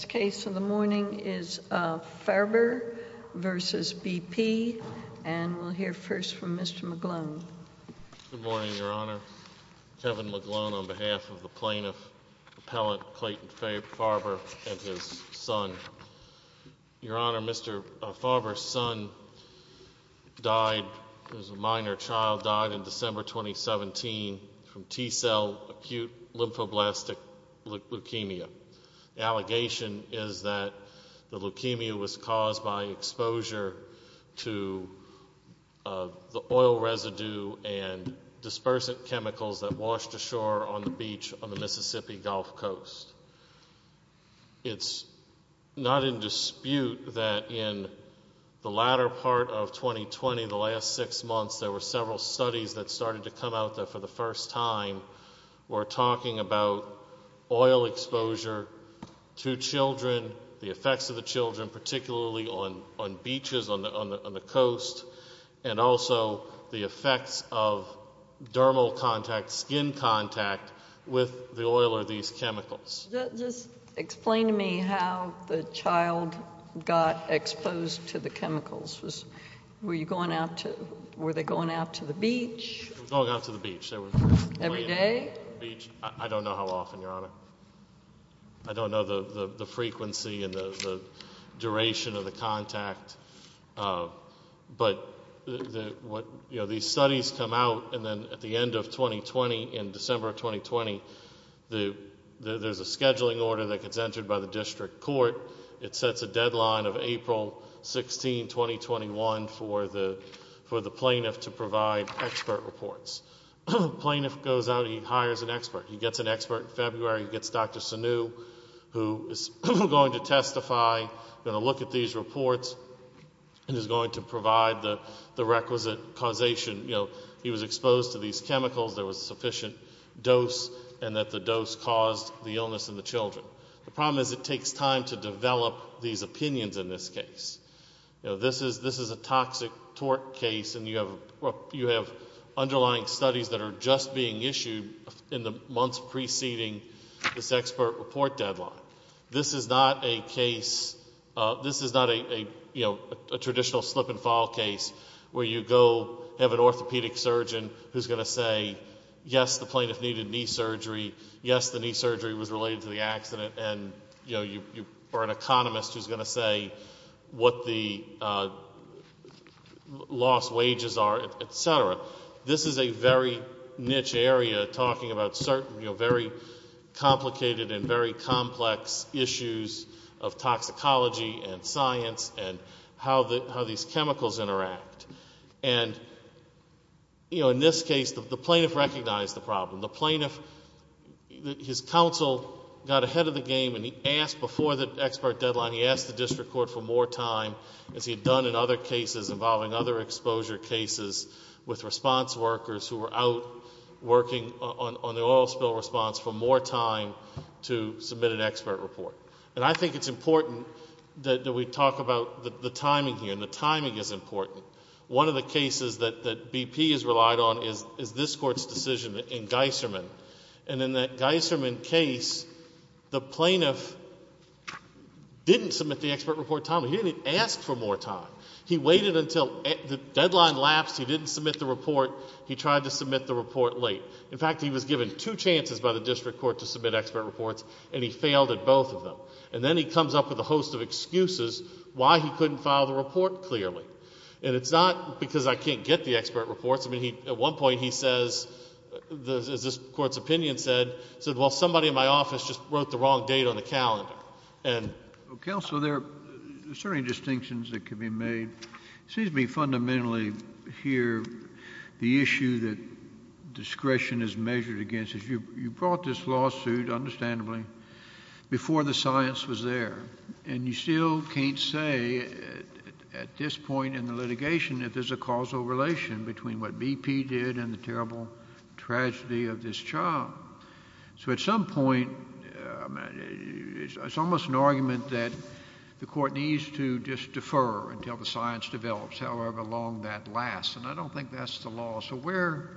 v. BP Expl & Prodn Good morning, Your Honor. Kevin McGlone on behalf of the Plaintiff Appellant Clayton Faerber and his son. Your Honor, Mr. Faerber's son died, who is a minor child, died in December 2017 from T cell acute lymphoblastic leukemia. The allegation is that the leukemia was caused by exposure to the oil residue and dispersant chemicals that washed ashore on the beach on the Mississippi Gulf Coast. It's not in dispute that in the latter part of 2020, the months, there were several studies that started to come out that for the first time were talking about oil exposure to children, the effects of the children, particularly on beaches on the coast, and also the effects of dermal contact, skin contact, with the oil or these chemicals. Just explain to me how the child got exposed to the chemicals. Were they going out to the beach? They were going out to the beach. Every day? I don't know how often, Your Honor. I don't know the frequency and the duration of the that gets entered by the district court. It sets a deadline of April 16, 2021 for the plaintiff to provide expert reports. The plaintiff goes out and he hires an expert. He gets an expert in February. He gets Dr. Sanu, who is going to testify, going to look at these reports, and is going to provide the requisite causation. You know, he was exposed to these The problem is it takes time to develop these opinions in this case. You know, this is a toxic tort case, and you have underlying studies that are just being issued in the months preceding this expert report deadline. This is not a case, this is not a, you know, a traditional slip and fall case where you go, have an orthopedic surgeon who's going to say, yes, the plaintiff needed knee surgery, yes, the knee surgery was related to the accident, and, you know, you are an economist who's going to say what the lost wages are, et cetera. This is a very niche area talking about certain, you know, very complicated and very complex issues of toxicology and science and how these chemicals interact. And, you know, in this case, the plaintiff, his counsel got ahead of the game, and he asked before the expert deadline, he asked the district court for more time, as he had done in other cases involving other exposure cases, with response workers who were out working on the oil spill response for more time to submit an expert report. And I think it's important that we talk about the timing here, and the timing is important. One of the cases that BP has relied on is this Court's decision in Geisserman. And in that Geisserman case, the plaintiff didn't submit the expert report timely. He didn't even ask for more time. He waited until the deadline lapsed, he didn't submit the report, he tried to submit the report late. In fact, he was given two chances by the district court to submit expert reports, and he failed at both of them. And then he comes up with a host of excuses why he couldn't file the report clearly. And it's not because I can't get the expert reports. I mean, at one point, he says, as this Court's opinion said, said, well, somebody in my office just wrote the wrong date on the calendar. And... Well, counsel, there are certain distinctions that can be made. It seems to me fundamentally here the issue that discretion is measured against is you brought this lawsuit, understandably, before the science was there. And you still can't say at this point in the litigation that there's a causal relation between what BP did and the terrible tragedy of this child. So at some point, it's almost an argument that the Court needs to just defer until the science develops, however long that lasts. And I don't think that's the law. So where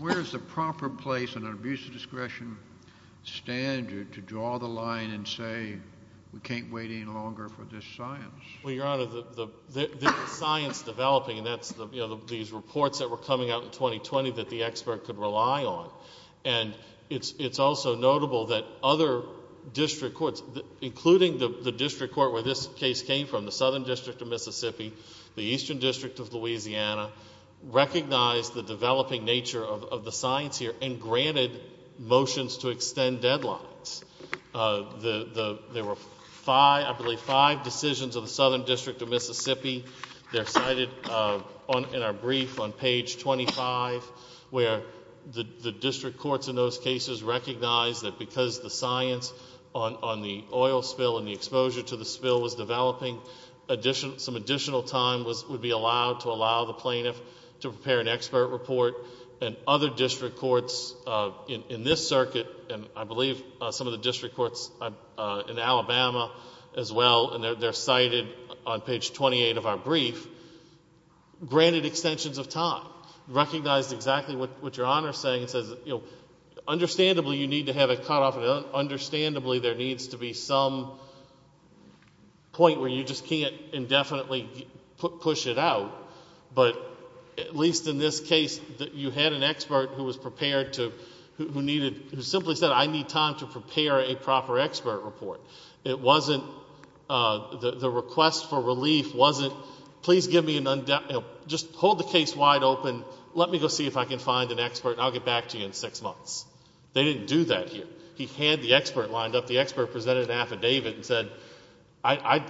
is the proper place in an abuse of discretion standard to draw the line and say we can't wait any longer for this science? Well, Your Honor, the science developing, and that's these reports that were coming out in 2020 that the expert could rely on. And it's also notable that other district courts, including the district court where this case came from, the Southern District of Mississippi, the Eastern District of Louisiana, recognized the developing nature of the science here and granted motions to extend deadlines. There were five, I believe, five decisions of the Southern District of Mississippi. They're cited in our brief on page 25, where the district courts in those cases recognized that because the science on the oil spill and the exposure to the spill was developing, some additional time would be allowed to allow the plaintiff to prepare an expert report. And other district courts in this circuit, and I believe some of the district courts in Alabama as well, and they're cited on page 28 of our brief, granted extensions of time, recognized exactly what Your Honor is saying. It says, understandably, you need to have it cut off, and understandably, there needs to be some point where you just can't indefinitely push it out. But at least in this case, you had an expert who was prepared to, who needed, who simply said, I need time to prepare a proper expert report. It wasn't, the request for relief wasn't, please give me an, just hold the case wide open, let me go see if I can find an expert, and I'll get back to you in six months. They didn't do that here. He had the expert lined up. The expert presented an affidavit and said, I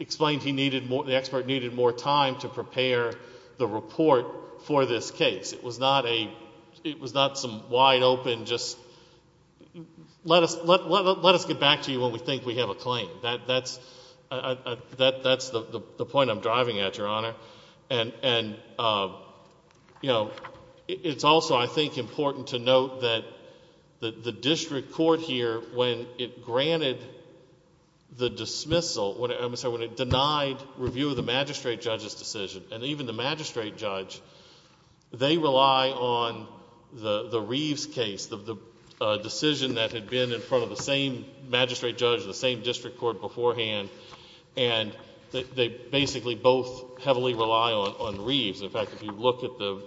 explained he needed more, the expert needed more time to prepare the report for this case. It was not a, it was not some wide open, just let us, let us get back to you when we think we have a claim. That's, that's the point I'm driving at, Your Honor. And, you know, it's also, I think, important to note that the district court here, when it granted the dismissal, I'm sorry, when it denied review of the magistrate judge's decision, and even the magistrate judge, they rely on the Reeves case, the decision that had been in front of the same magistrate judge, the same district court beforehand, and they basically both heavily rely on Reeves. In fact, if you look at the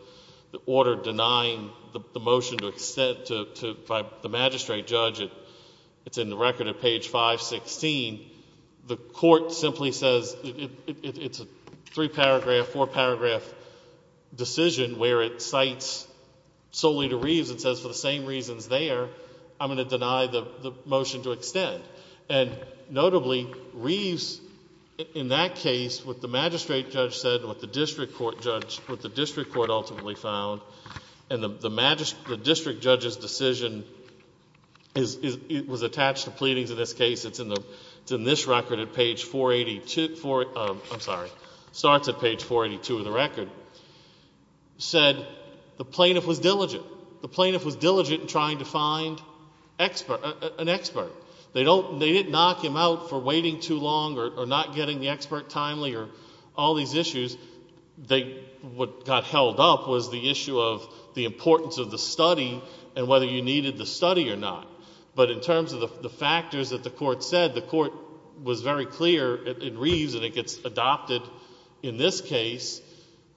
order denying the motion to, to, by the magistrate judge, it's in the record at page 516, the court simply says, it's a three paragraph, four paragraph decision where it cites solely to Reeves and says for the same reasons there, I'm going to deny the motion to extend. And notably, Reeves, in that case, what the magistrate judge said and what the district court judge, what the district court ultimately found, and the magistrate, the district judge's decision is, it was attached to pleadings in this case, it's in the, it's in this record at page 482, I'm sorry, starts at page 482 of the record, said the plaintiff was diligent. The plaintiff was diligent in trying to find expert, an expert. They don't, they didn't knock him out for waiting too long or not getting the expert timely or all these issues. They, what got held up was the issue of the importance of the study and whether you needed the study or not. But in terms of the factors that the court said, the court was very clear in Reeves, and it gets adopted in this case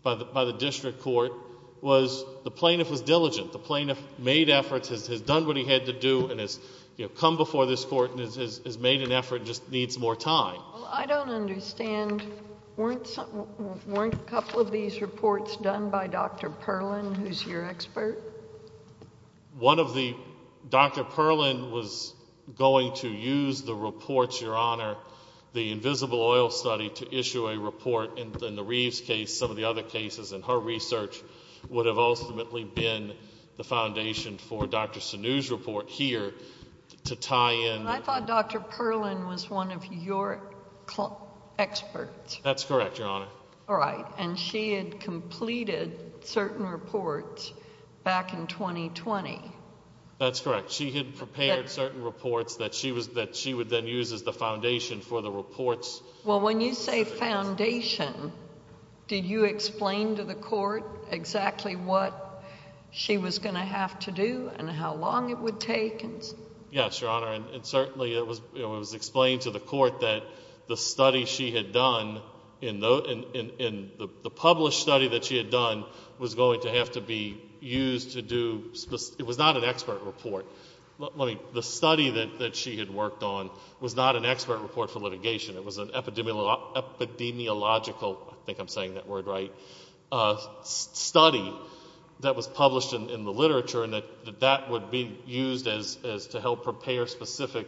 by the, by the district court, was the plaintiff was diligent. The plaintiff made efforts, has done what he had to do, and has, you know, come before this court and has made an effort, just needs more time. Well, I don't understand. Weren't some, weren't a couple of these reports done by Dr. Perlin, who's your expert? One of the, Dr. Perlin was going to use the reports, Your Honor, the invisible oil study to issue a report in the Reeves case, some of the other cases, and her research would have ultimately been the foundation for Dr. Sanu's report here to tie in... I thought Dr. Perlin was one of your experts. That's correct, Your Honor. All right. And she had completed certain reports back in 2020. That's correct. She had prepared certain reports that she was, that she would then use as the foundation for the reports. Well, when you say foundation, did you explain to the court exactly what she was going to have to do and how long it would take? Yes, Your Honor, and certainly it was, you know, it was explained to the court that the study she had done in, in the published study that she had done was going to have to be used to do, it was not an expert report. Let me, the study that she had worked on was not an expert report for litigation. It was an epidemiological, I think I'm saying that word right, study that was published in the literature and that, that would be used as, as to help prepare specific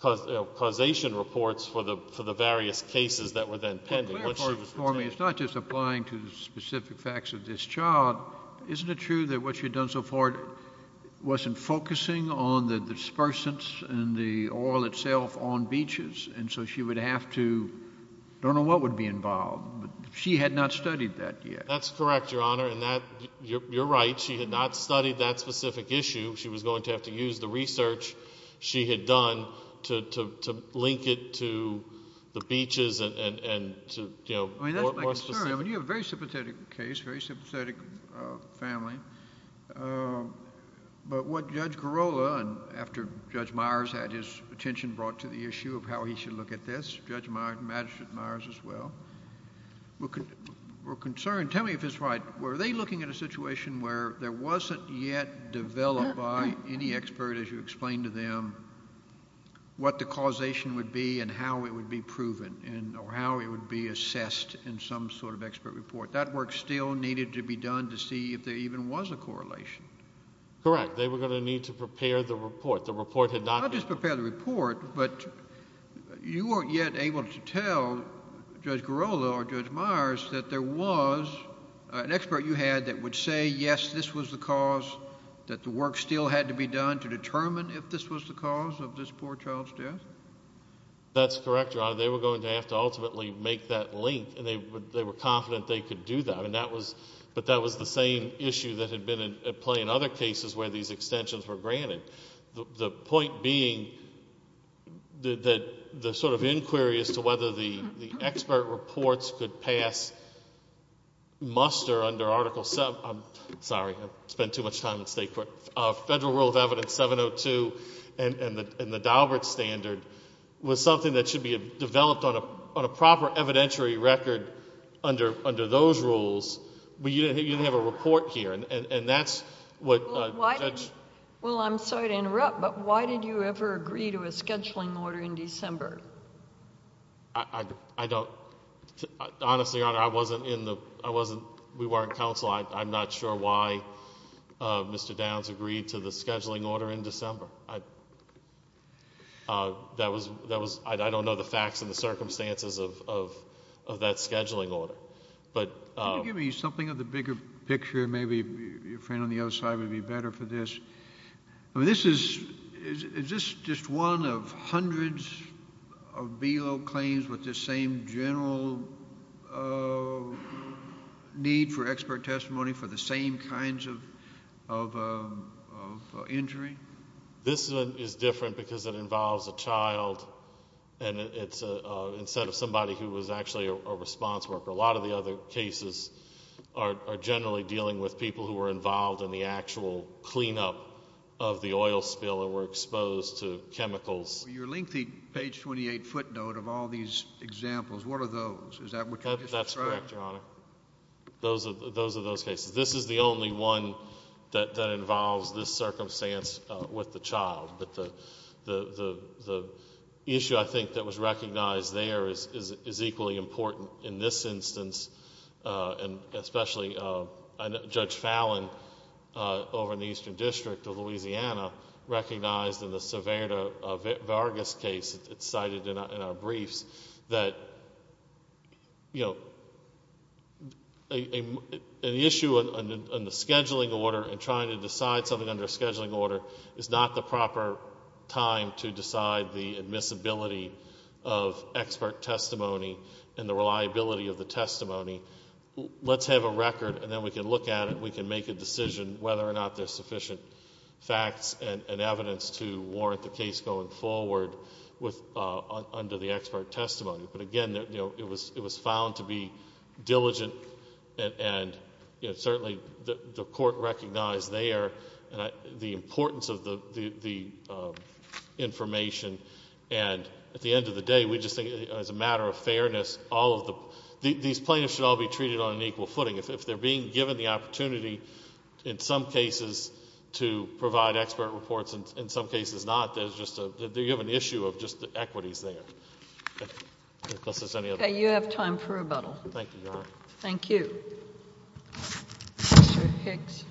causation reports for the, for the various cases that were then pending. But clarify this for me. It's not just applying to the specific facts of this child. Isn't it true that what she had done so far wasn't focusing on the dispersants and the oil itself on beaches and so she would have to, I don't know what would be involved, but she had not studied that yet? That's correct, Your Honor, and that, you're, you're right. She had not studied that specific issue. She was going to have to use the research she had done to, to, to link it to the beaches and, and, and to, you know, more, more specific... I mean, that's my concern. I mean, you have a very sympathetic case, very sympathetic family. But what Judge Girola, and after Judge Meyers had his attention brought to the issue of how he should look at this, Judge Meyers, Magistrate Meyers as well, were, were concerned, tell me if it's right, were they looking at a situation where there wasn't yet developed by any expert, as you explained to them, what the causation would be and how it would be proven and, or how it would be assessed in some sort of expert report? That work still needed to be done to see if there even was a correlation. Correct. They were going to need to prepare the report. The report had not... Not just prepare the report, but you weren't yet able to tell Judge Girola or Judge Meyers that there was an expert you had that would say, yes, this was the cause, that the work still had to be done to determine if this was the cause of this poor child's death? That's correct, Your Honor. They were going to have to ultimately make that link, and they were confident they could do that, but that was the same issue that had been at play in other cases where these extensions were granted. The point being that the sort of inquiry as to whether the expert reports could pass muster under Article... I'm sorry, I've spent too much time in state court. Federal Rule of Evidence 702 and the Daubert Standard was something that should be developed on a proper evidentiary record under those rules, but you didn't have a report here, and that's what... Well, I'm sorry to interrupt, but why did you ever agree to a scheduling order in December? I don't... Honestly, Your Honor, I wasn't in the... we weren't in counsel. I'm not sure why Mr. Downs agreed to the scheduling order in December. That was... I don't know the facts and the circumstances of that scheduling order, but... Can you give me something of the bigger picture? Maybe your friend on the other side would be better for this. This is... is this just one of hundreds of BELO claims with the same general need for expert testimony for the same kinds of injury? This is different because it involves a child and it's... instead of somebody who was actually a response worker. A lot of the other cases are generally dealing with people who were involved in the actual cleanup of the oil spill and were exposed to chemicals. Your lengthy page 28 footnote of all these examples, what are those? Is that what you're describing? That's correct, Your Honor. Those are those cases. This is the only one that involves this circumstance with the child, but the issue, I think, that was recognized there is equally important in this instance, and especially Judge Fallon over in the Eastern District of Louisiana recognized in the Cervera-Vargas case that's cited in our briefs, that an issue on the scheduling order and trying to decide something under a scheduling order is not the proper time to decide the admissibility of expert testimony and the reliability of the testimony. Let's have a record and then we can look at it. We can make a decision whether or not there's sufficient facts and evidence to warrant the case going forward under the expert testimony. Again, it was found to be diligent and certainly the court recognized there the importance of the information. At the end of the day, we just think as a matter of fairness, these plaintiffs should all be treated on an equal footing. If they're being given the opportunity in some cases to provide expert reports and in some cases not, you have an issue of just the equities there. Okay, you have time for rebuttal. Thank you, Your Honor. Thank you. Mr. Hicks.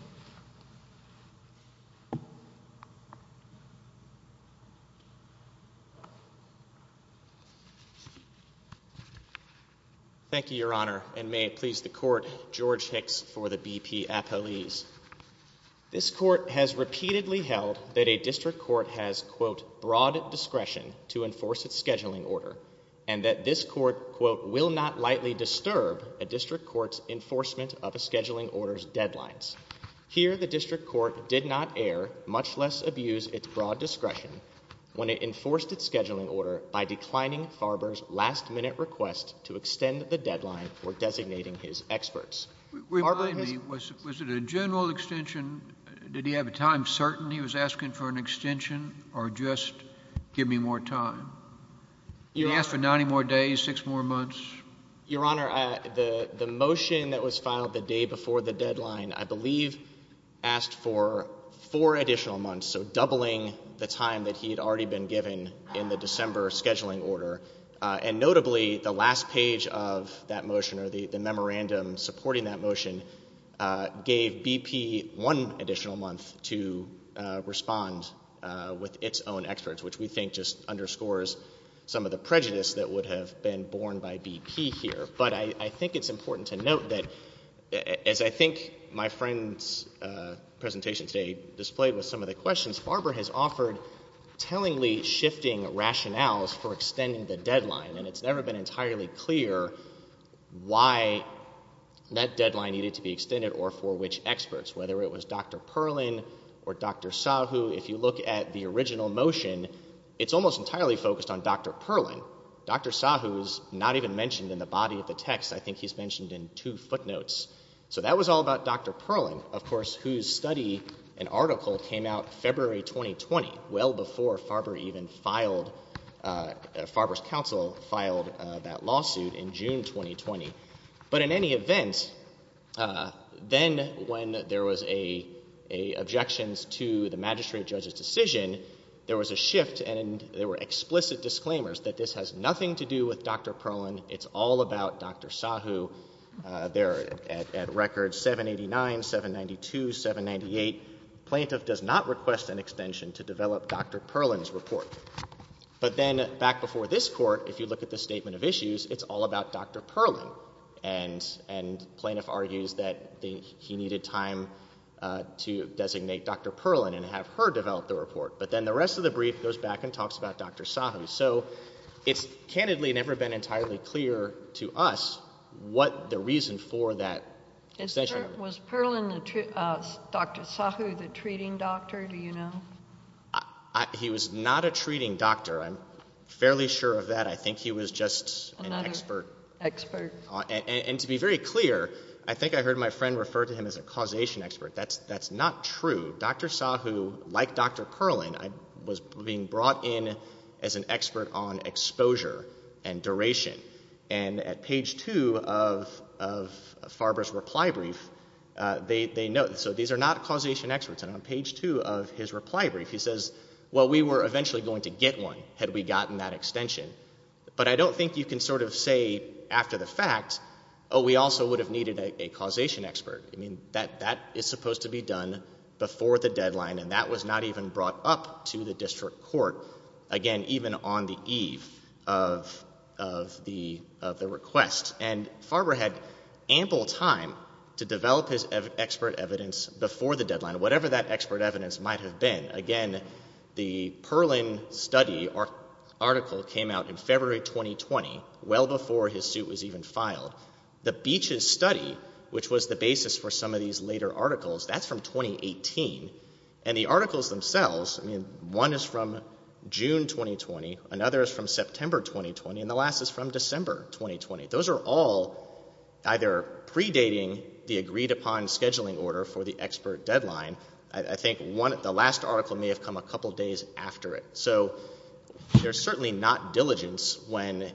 Thank you, Your Honor. And may it please the court, George Hicks for the BP appellees. This court has repeatedly held that a district court has, quote, broad discretion to enforce its scheduling order and that this court, quote, will not lightly disturb a district court's enforcement of a scheduling order's deadlines. Here, the district court did not err, much less abuse its broad discretion when it enforced its scheduling order by declining Farber's last minute request to extend the deadline for designating his experts. Remind me, was it a general extension? Did he have a time certain he was asking for an extension or just give me more time? He asked for 90 more days, six more months? Your Honor, the motion that was filed the day before the deadline, I believe, asked for four additional months, so doubling the time that he had already been given in the December scheduling order. And notably, the last page of that motion or the memorandum supporting that motion gave BP one additional month to respond with its own experts, which we think just underscores some of the prejudice that would have been borne by BP here. But I think it's important to note that, as I think my friend's presentation today displayed with some of the questions, Farber has offered tellingly shifting rationales for extending the deadline, and it's never been entirely clear why that deadline needed to be extended or for which experts, whether it was Dr. Perlin or Dr. Sahu. If you look at the original motion, it's almost entirely focused on Dr. Perlin. Dr. Sahu is not even mentioned in the body of the text. I think he's mentioned in two footnotes. So that was all about Dr. Perlin, of course, whose study and article came out February 2020, well before Farber even filed, Farber's counsel filed that lawsuit in June 2020. But in any event, then when there was objections to the magistrate judge's decision, there was a shift and there were explicit disclaimers that this has nothing to do with Dr. Perlin. It's all about Dr. Sahu. They're at record 789, 792, 798. Plaintiff does not request an extension to develop Dr. Perlin's report. But then back before this Court, if you look at the statement of issues, it's all about Dr. Perlin. And plaintiff argues that he needed time to designate Dr. Perlin and have her develop the report. But then the rest of the brief goes back and talks about Dr. Sahu. So it's candidly never been entirely clear to us what the reason for that extension. Was Perlin, Dr. Sahu, the treating doctor, do you know? He was not a treating doctor. I'm fairly sure of that. I think he was just an expert. And to be very clear, I think I heard my friend refer to him as a causation expert. That's not true. Dr. Sahu, like Dr. Perlin, was being brought in as an expert on exposure and duration. And at page 2 of Farber's reply brief, they note, so these are not causation experts. And on page 2 of his reply brief, he says, well, we were eventually going to get one had we gotten that extension. But I don't think you can sort of say after the fact, oh, we also would have needed a causation expert. I mean, that is supposed to be done before the deadline, and that was not even brought up to the District Court, again, even on the eve of the request. And Farber had ample time to develop his expert evidence before the deadline, whatever that expert evidence might have been. Again, the Perlin study article came out in February 2020, well before his suit was even filed. The Beeches study, which was the basis for some of these later articles, that's from 2018. And the articles themselves, I mean, one is from June 2020, another is from September 2020, and the last is from December 2020. Those are all either predating the agreed-upon scheduling order for the expert deadline. I think the last article may have come a couple days after it. So there's certainly not diligence when,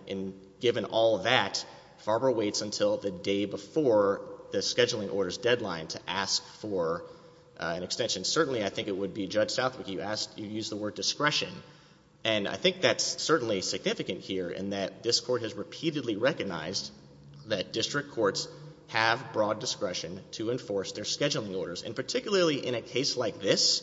given all that, Farber waits until the day before the scheduling order's deadline to ask for an extension. Certainly, I think it would be, Judge Southwick, you used the word discretion. And I think that's certainly significant here in that this Court has repeatedly recognized that District Courts have broad discretion to enforce their scheduling orders. And particularly in a case like this,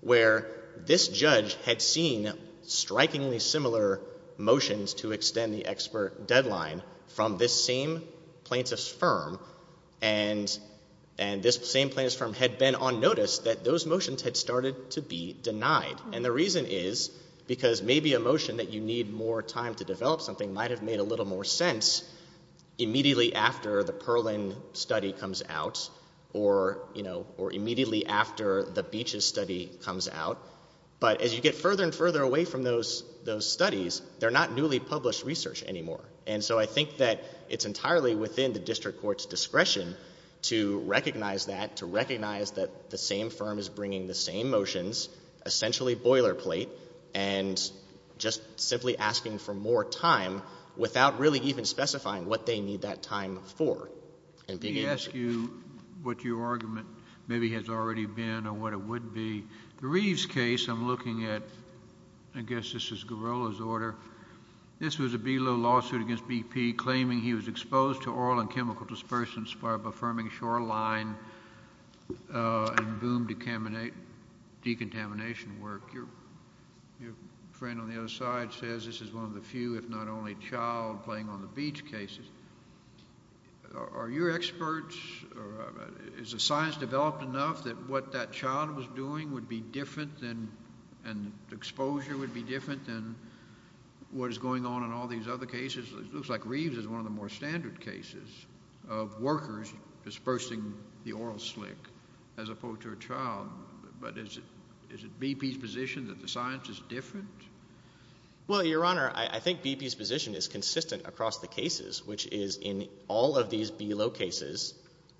where this judge had seen strikingly similar motions to extend the expert deadline from this same plaintiff's firm, and this same plaintiff's firm had been on notice, that those motions had started to be denied. And the reason is because maybe a motion that you need more time to develop something might have made a little more sense immediately after the Perlin study comes out, or immediately after the Beeches study comes out. But as you get further and further away from those studies, they're not newly published research anymore. And so I think that it's entirely within the District Court's discretion to recognize that, to recognize that the same firm is bringing the same motions, essentially boilerplate, and just simply asking for more time without really even specifying what they need that time for. Let me ask you what your argument maybe has already been, or what it would be. The Reeves case, I'm looking at, I guess this is Girola's order, this was a BILO lawsuit against BP claiming he was exposed to oil and chemical dispersants by a Birmingham shoreline, and boom decontamination work. Your friend on the other side says this is one of the few, if not only child, playing on the beach cases. Are your experts, is the science developed enough that what that child was doing would be different than, and exposure would be different than what is going on in all these other cases? It looks like Reeves is one of the more standard cases of workers dispersing the oil slick as opposed to a child. But is it BP's position that the science is different? Well, Your Honor, I think BP's position is consistent across the cases, which is in all of these BILO cases,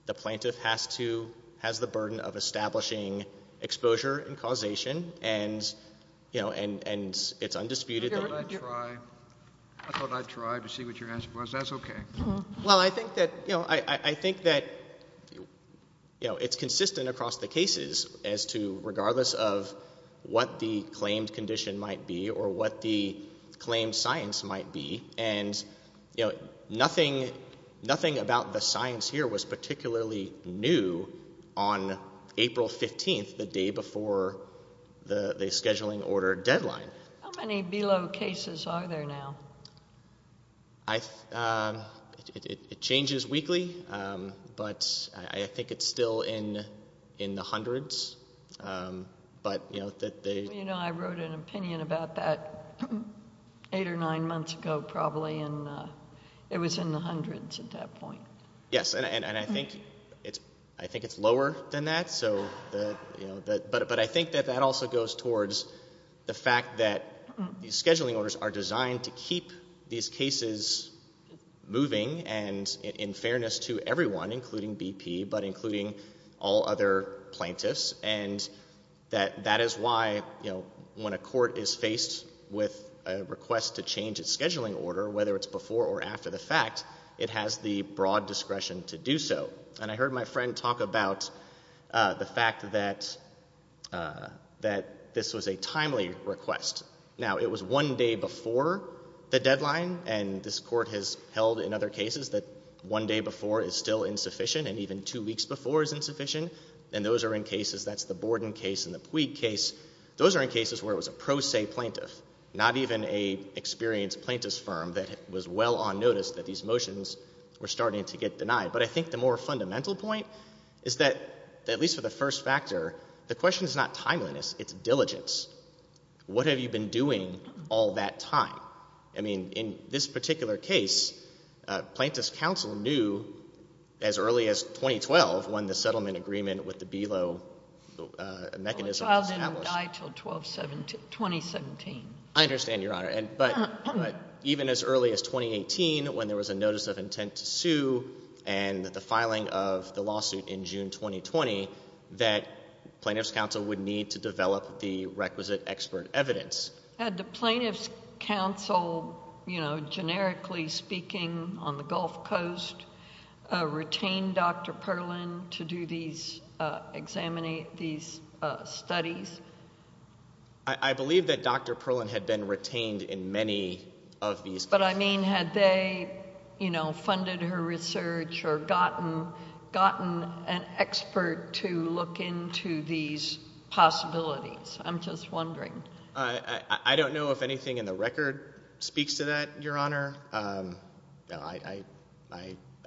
the plaintiff has to, has the burden of establishing exposure and causation and, you know, and it's undisputed that... I thought I'd try, I thought I'd try to see what your answer was. That's okay. Well, I think that, you know, I think that, you know, it's consistent across the cases as to, regardless of what the claimed condition might be or what the claimed science might be, and, you know, nothing, nothing about the science here was particularly new on April 15th, the day before the scheduling order deadline. How many BILO cases are there now? I, it changes weekly, but I think it's still in the hundreds, but, you know, that they... You know, I wrote an opinion about that eight or nine months ago, probably, and it was in the hundreds at that point. Yes, and I think it's, I think it's lower than that, so, you know, but I think that also goes towards the fact that these scheduling orders are designed to keep these cases moving and in fairness to everyone, including BP, but including all other plaintiffs, and that that is why, you know, when a court is faced with a request to change its scheduling order, whether it's before or after the fact, it has the broad discretion to do so. And I heard my friend talk about the fact that, that this was a timely request. Now, it was one day before the deadline, and this court has held in other cases that one day before is still insufficient, and even two weeks before is insufficient, and those are in cases, that's the Borden case and the Puig case, those are in cases where it was a pro se plaintiff, not even a experienced plaintiff's firm that was well on notice that these motions were starting to get denied. But I think the more fundamental point is that, at least for the first factor, the question is not timeliness, it's diligence. What have you been doing all that time? I mean, in this particular case, Plaintiff's counsel knew as early as 2012 when the settlement agreement with the BELO mechanism was established. Well, the child didn't die until 2017. I understand, Your Honor, but even as early as 2018, when there was a notice of intent to sue and the filing of the lawsuit in June 2020, that Plaintiff's counsel would need to develop the requisite expert evidence. Had the Plaintiff's counsel, you know, generically speaking, on the Gulf Coast retained Dr. Perlin to do these, examine these studies? I believe that Dr. Perlin had been retained in many of these. But I mean, had they, you know, funded her research or gotten an expert to look into these possibilities? I'm just wondering. I don't know if anything in the record speaks to that, Your Honor. I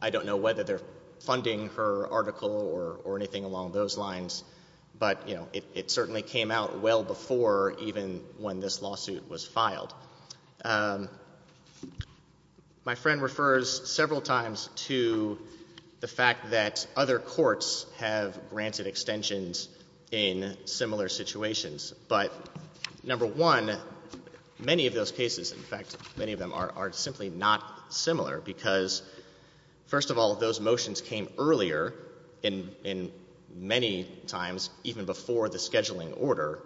don't know whether they're funding her article or anything along those lines, but, you know, it certainly came out well before even when this lawsuit was filed. My friend refers several times to the fact that other courts have granted extensions in similar situations, but number one, many of those cases, in fact, many of them are simply not similar because, first of all, those motions came earlier in many times even before the scheduling order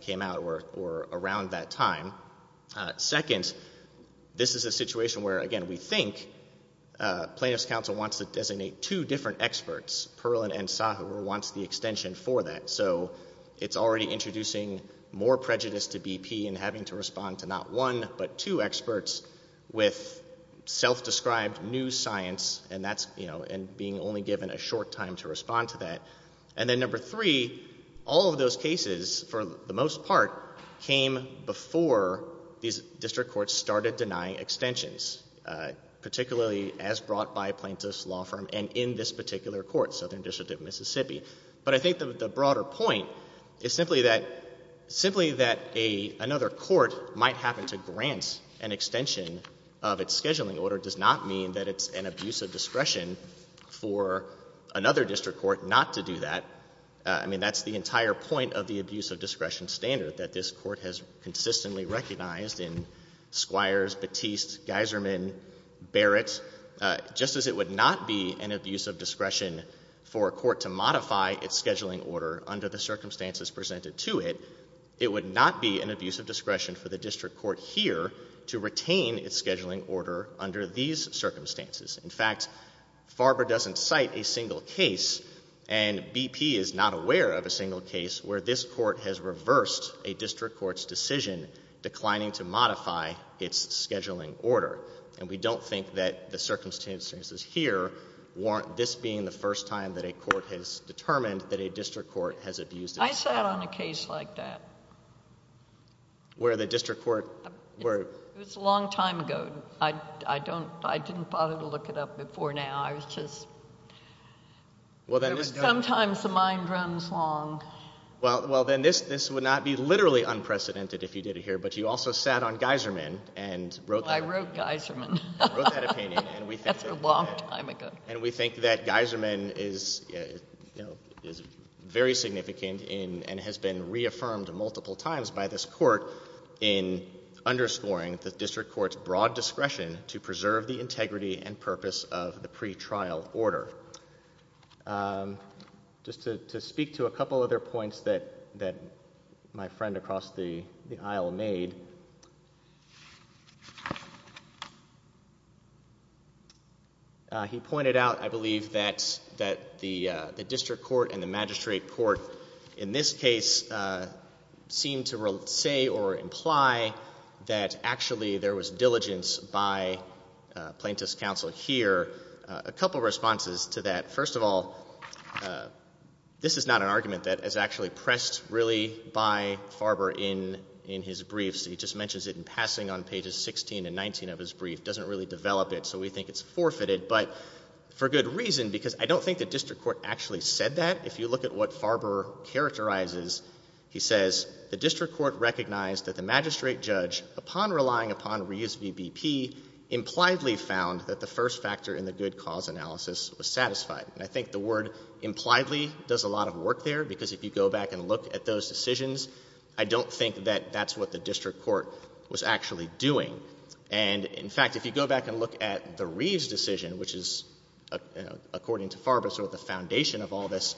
came out or around that time. Second, this is a situation where, again, we think Plaintiff's counsel wants to designate two different experts. Perlin and Sahur wants the extension for that. So it's already introducing more prejudice to BP in having to respond to not one but two experts with self-described new science and that's, you know, and being only given a short time to respond to that. And then number three, all of those cases, for the most part, came before these district courts started denying extensions, particularly as brought by Plaintiff's law firm and in this particular court, Southern District of Mississippi. But I think the broader point is simply that another court might happen to grant an extension of its scheduling order does not mean that it's an abuse of discretion for another district court not to do that. I mean, that's the entire point of the abuse of discretion standard that this court has consistently recognized in Squires, Batiste, Geiserman, Barrett. Just as it would not be an abuse of discretion for a court to modify its scheduling order under the circumstances presented to it, it would not be an abuse of discretion for the district court here to retain its scheduling order under these circumstances. In fact, Farber doesn't cite a single case and BP is not aware of a single case where this court has reversed a district court's decision declining to modify its scheduling order. And we don't think that the circumstances here warrant this being the first time that a court has determined that a district court has abused— I sat on a case like that. Where the district court— It was a long time ago. I don't—I didn't bother to look it up before now. I was just— Sometimes the mind runs long. Well, then this would not be literally unprecedented if you did it here. But you also sat on Geiserman and wrote that— I wrote Geiserman. You wrote that opinion and we think that— That's a long time ago. And we think that Geiserman is very significant and has been reaffirmed multiple times by this court in underscoring the district court's broad discretion to preserve the integrity and purpose of the pretrial order. Just to speak to a couple other points that my friend across the aisle made. He pointed out, I believe, that the district court and the magistrate court in this case seem to say or imply that actually there was diligence by plaintiff's counsel here. A couple responses to that. First of all, this is not an argument that is actually pressed really by Farber in his briefs. He just mentions it in passing on pages 16 and 19 of his brief. Doesn't really develop it, so we think it's forfeited. But for good reason, because I don't think the district court actually said that. If you look at what Farber characterizes, he says the district court recognized that the magistrate judge, upon relying upon Reeves v. BP, impliedly found that the first factor in the good cause analysis was satisfied. And I think the word impliedly does a lot of work there, because if you go back and look at those decisions, I don't think that that's what the district court was actually doing. And in fact, if you go back and look at the Reeves decision, which is, according to Farber, sort of the foundation of all this,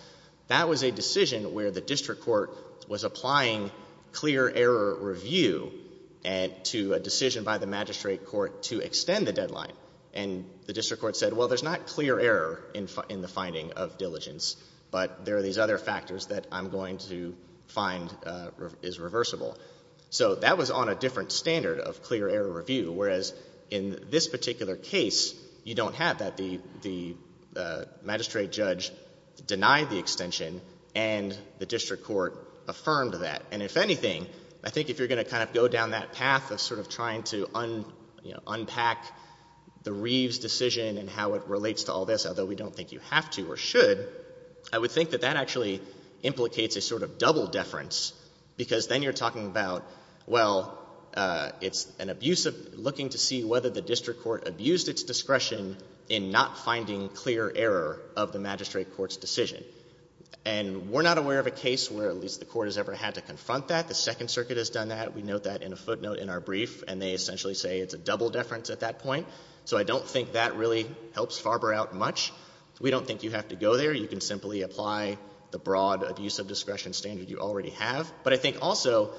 that was a decision where the district court was applying clear error review to a decision by the magistrate court to extend the deadline. And the district court said, well, there's not clear error in the finding of diligence, but there are these other factors that I'm going to find is reversible. So that was on a different standard of clear error review, whereas in this particular case, you don't have that. The magistrate judge denied the extension, and the district court affirmed that. And if anything, I think if you're going to kind of go down that path of sort of trying to unpack the Reeves decision and how it relates to all this, although we don't think you have to or should, I would think that that actually implicates a sort of double deference, because then you're talking about, well, it's an abuse of looking to see whether the district court abused its discretion in not finding clear error of the magistrate court's decision. And we're not aware of a case where at least the court has ever had to confront that. The Second Circuit has done that. We note that in a footnote in our brief, and they essentially say it's a double deference at that point. So I don't think that really helps Farber out much. We don't think you have to go there. You can simply apply the broad abuse of discretion standard you already have. But I think also,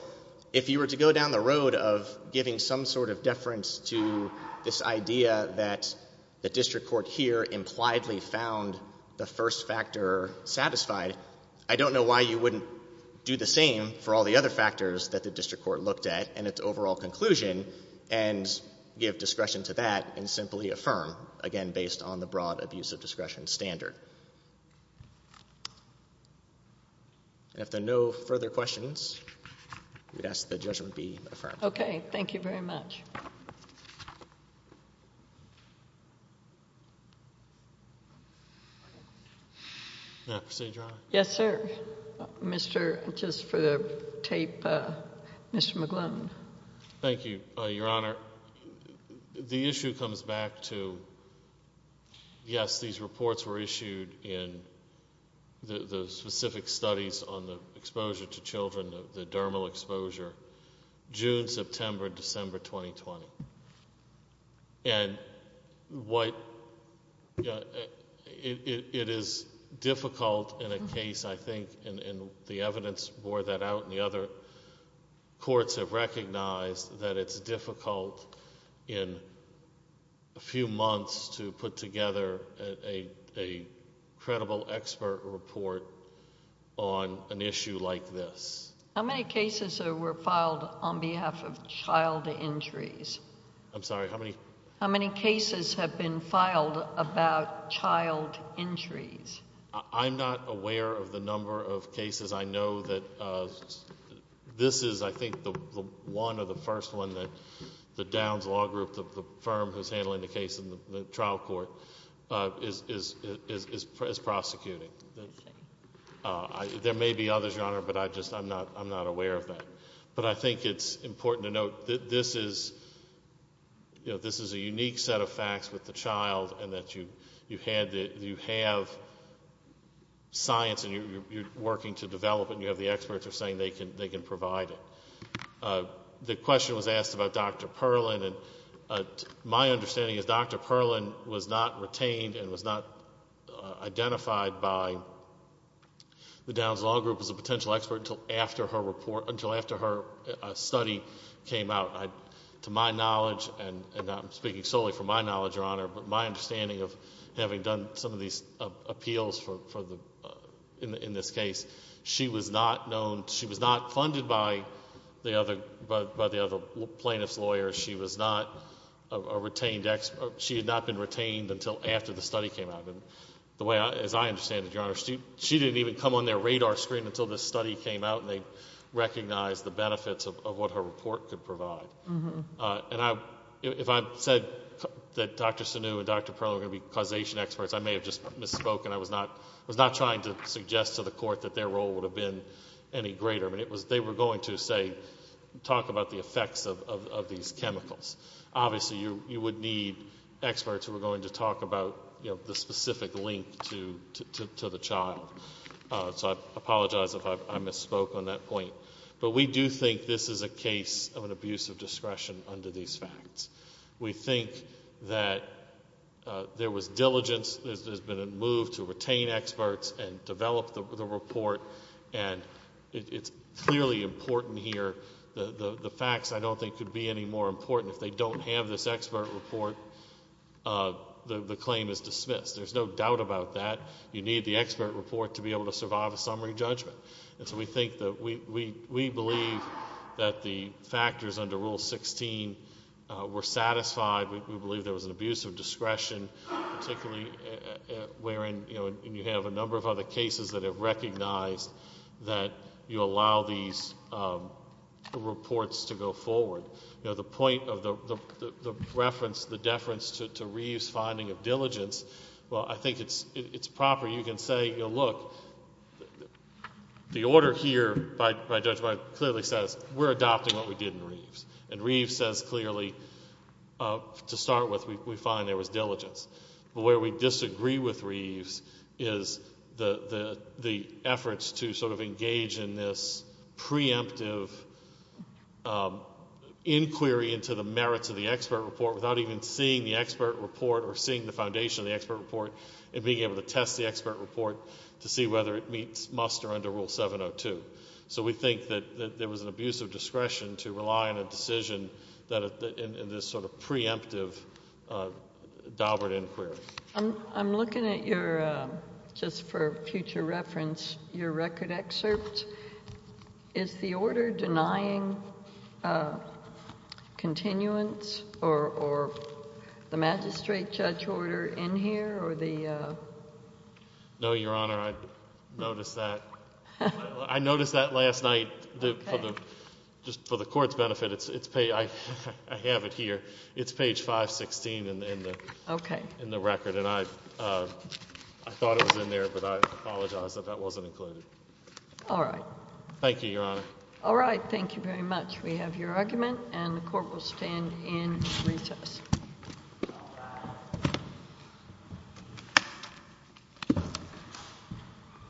if you were to go down the road of giving some sort of deference to this idea that the district court here impliedly found the first factor satisfied, I don't know why you wouldn't do the same for all the other factors that the district court looked at in its overall conclusion and give discretion to that and simply affirm, again, based on the broad abuse of discretion standard. And if there are no further questions, I would ask that judgment be affirmed. OK. Thank you very much. May I proceed, Your Honor? Yes, sir. Mr. Just for the tape, Mr. McGlone. Thank you, Your Honor. The issue comes back to, yes, these reports were issued in the specific studies on the exposure to children, the dermal exposure. June, September, December 2020. And it is difficult in a case, I think, and the evidence bore that out and the other courts have recognized that it's difficult in a few months to put together a credible expert report on an issue like this. How many cases were filed on behalf of child injuries? I'm sorry, how many? How many cases have been filed about child injuries? I'm not aware of the number of cases. I know that this is, I think, the one or the first one that the Downs Law Group, the firm who's handling the case in the trial court, is prosecuting. Okay. There may be others, Your Honor, but I just, I'm not aware of that. But I think it's important to note that this is a unique set of facts with the child and that you have science and you're working to develop it and you have the experts are saying they can provide it. The question was asked about Dr. Perlin and my understanding is Dr. Perlin was not retained and was not identified by the Downs Law Group as a potential expert until after her report, until after her study came out. To my knowledge, and I'm speaking solely from my knowledge, Your Honor, but my understanding of having done some of these appeals in this case, she was not known, she was not funded by the other plaintiff's lawyers. She was not a retained expert. She had not been retained until after the study came out. The way, as I understand it, Your Honor, she didn't even come on their radar screen until the study came out and they recognized the benefits of what her report could provide. If I said that Dr. Sunu and Dr. Perlin were going to be causation experts, I may have just misspoken. I was not trying to suggest to the court that their role would have been any greater. They were going to, say, talk about the effects of these chemicals. Obviously, you would need experts who were going to talk about the specific link to the child, so I apologize if I misspoke on that point. We do think this is a case of an abuse of discretion under these facts. We think that there was diligence, there's been a move to retain experts and develop the report. It's clearly important here, the facts I don't think could be any more important. If they don't have this expert report, the claim is dismissed. There's no doubt about that. You need the expert report to be able to survive a summary judgment. We believe that the factors under Rule 16 were satisfied. We believe there was an abuse of discretion, particularly wherein you have a number of cases that have recognized that you allow these reports to go forward. The point of the reference, the deference to Reeves' finding of diligence, I think it's proper. You can say, look, the order here by Judge Breyer clearly says we're adopting what we did in Reeves, and Reeves says clearly, to start with, we find there was diligence. Where we disagree with Reeves is the efforts to engage in this preemptive inquiry into the merits of the expert report without even seeing the expert report or seeing the foundation of the expert report and being able to test the expert report to see whether it meets must or under Rule 702. We think that there was an abuse of discretion to rely on a decision that in this preemptive Daubert inquiry. I'm looking at your, just for future reference, your record excerpt. Is the order denying continuance or the magistrate judge order in here or the... No, Your Honor, I noticed that. I noticed that last night. Just for the court's benefit, I have it here. It's page 516 in the record, and I thought it was in there, but I apologize that that wasn't included. All right. Thank you, Your Honor. All right. Thank you very much. We have your argument, and the court will stand in recess.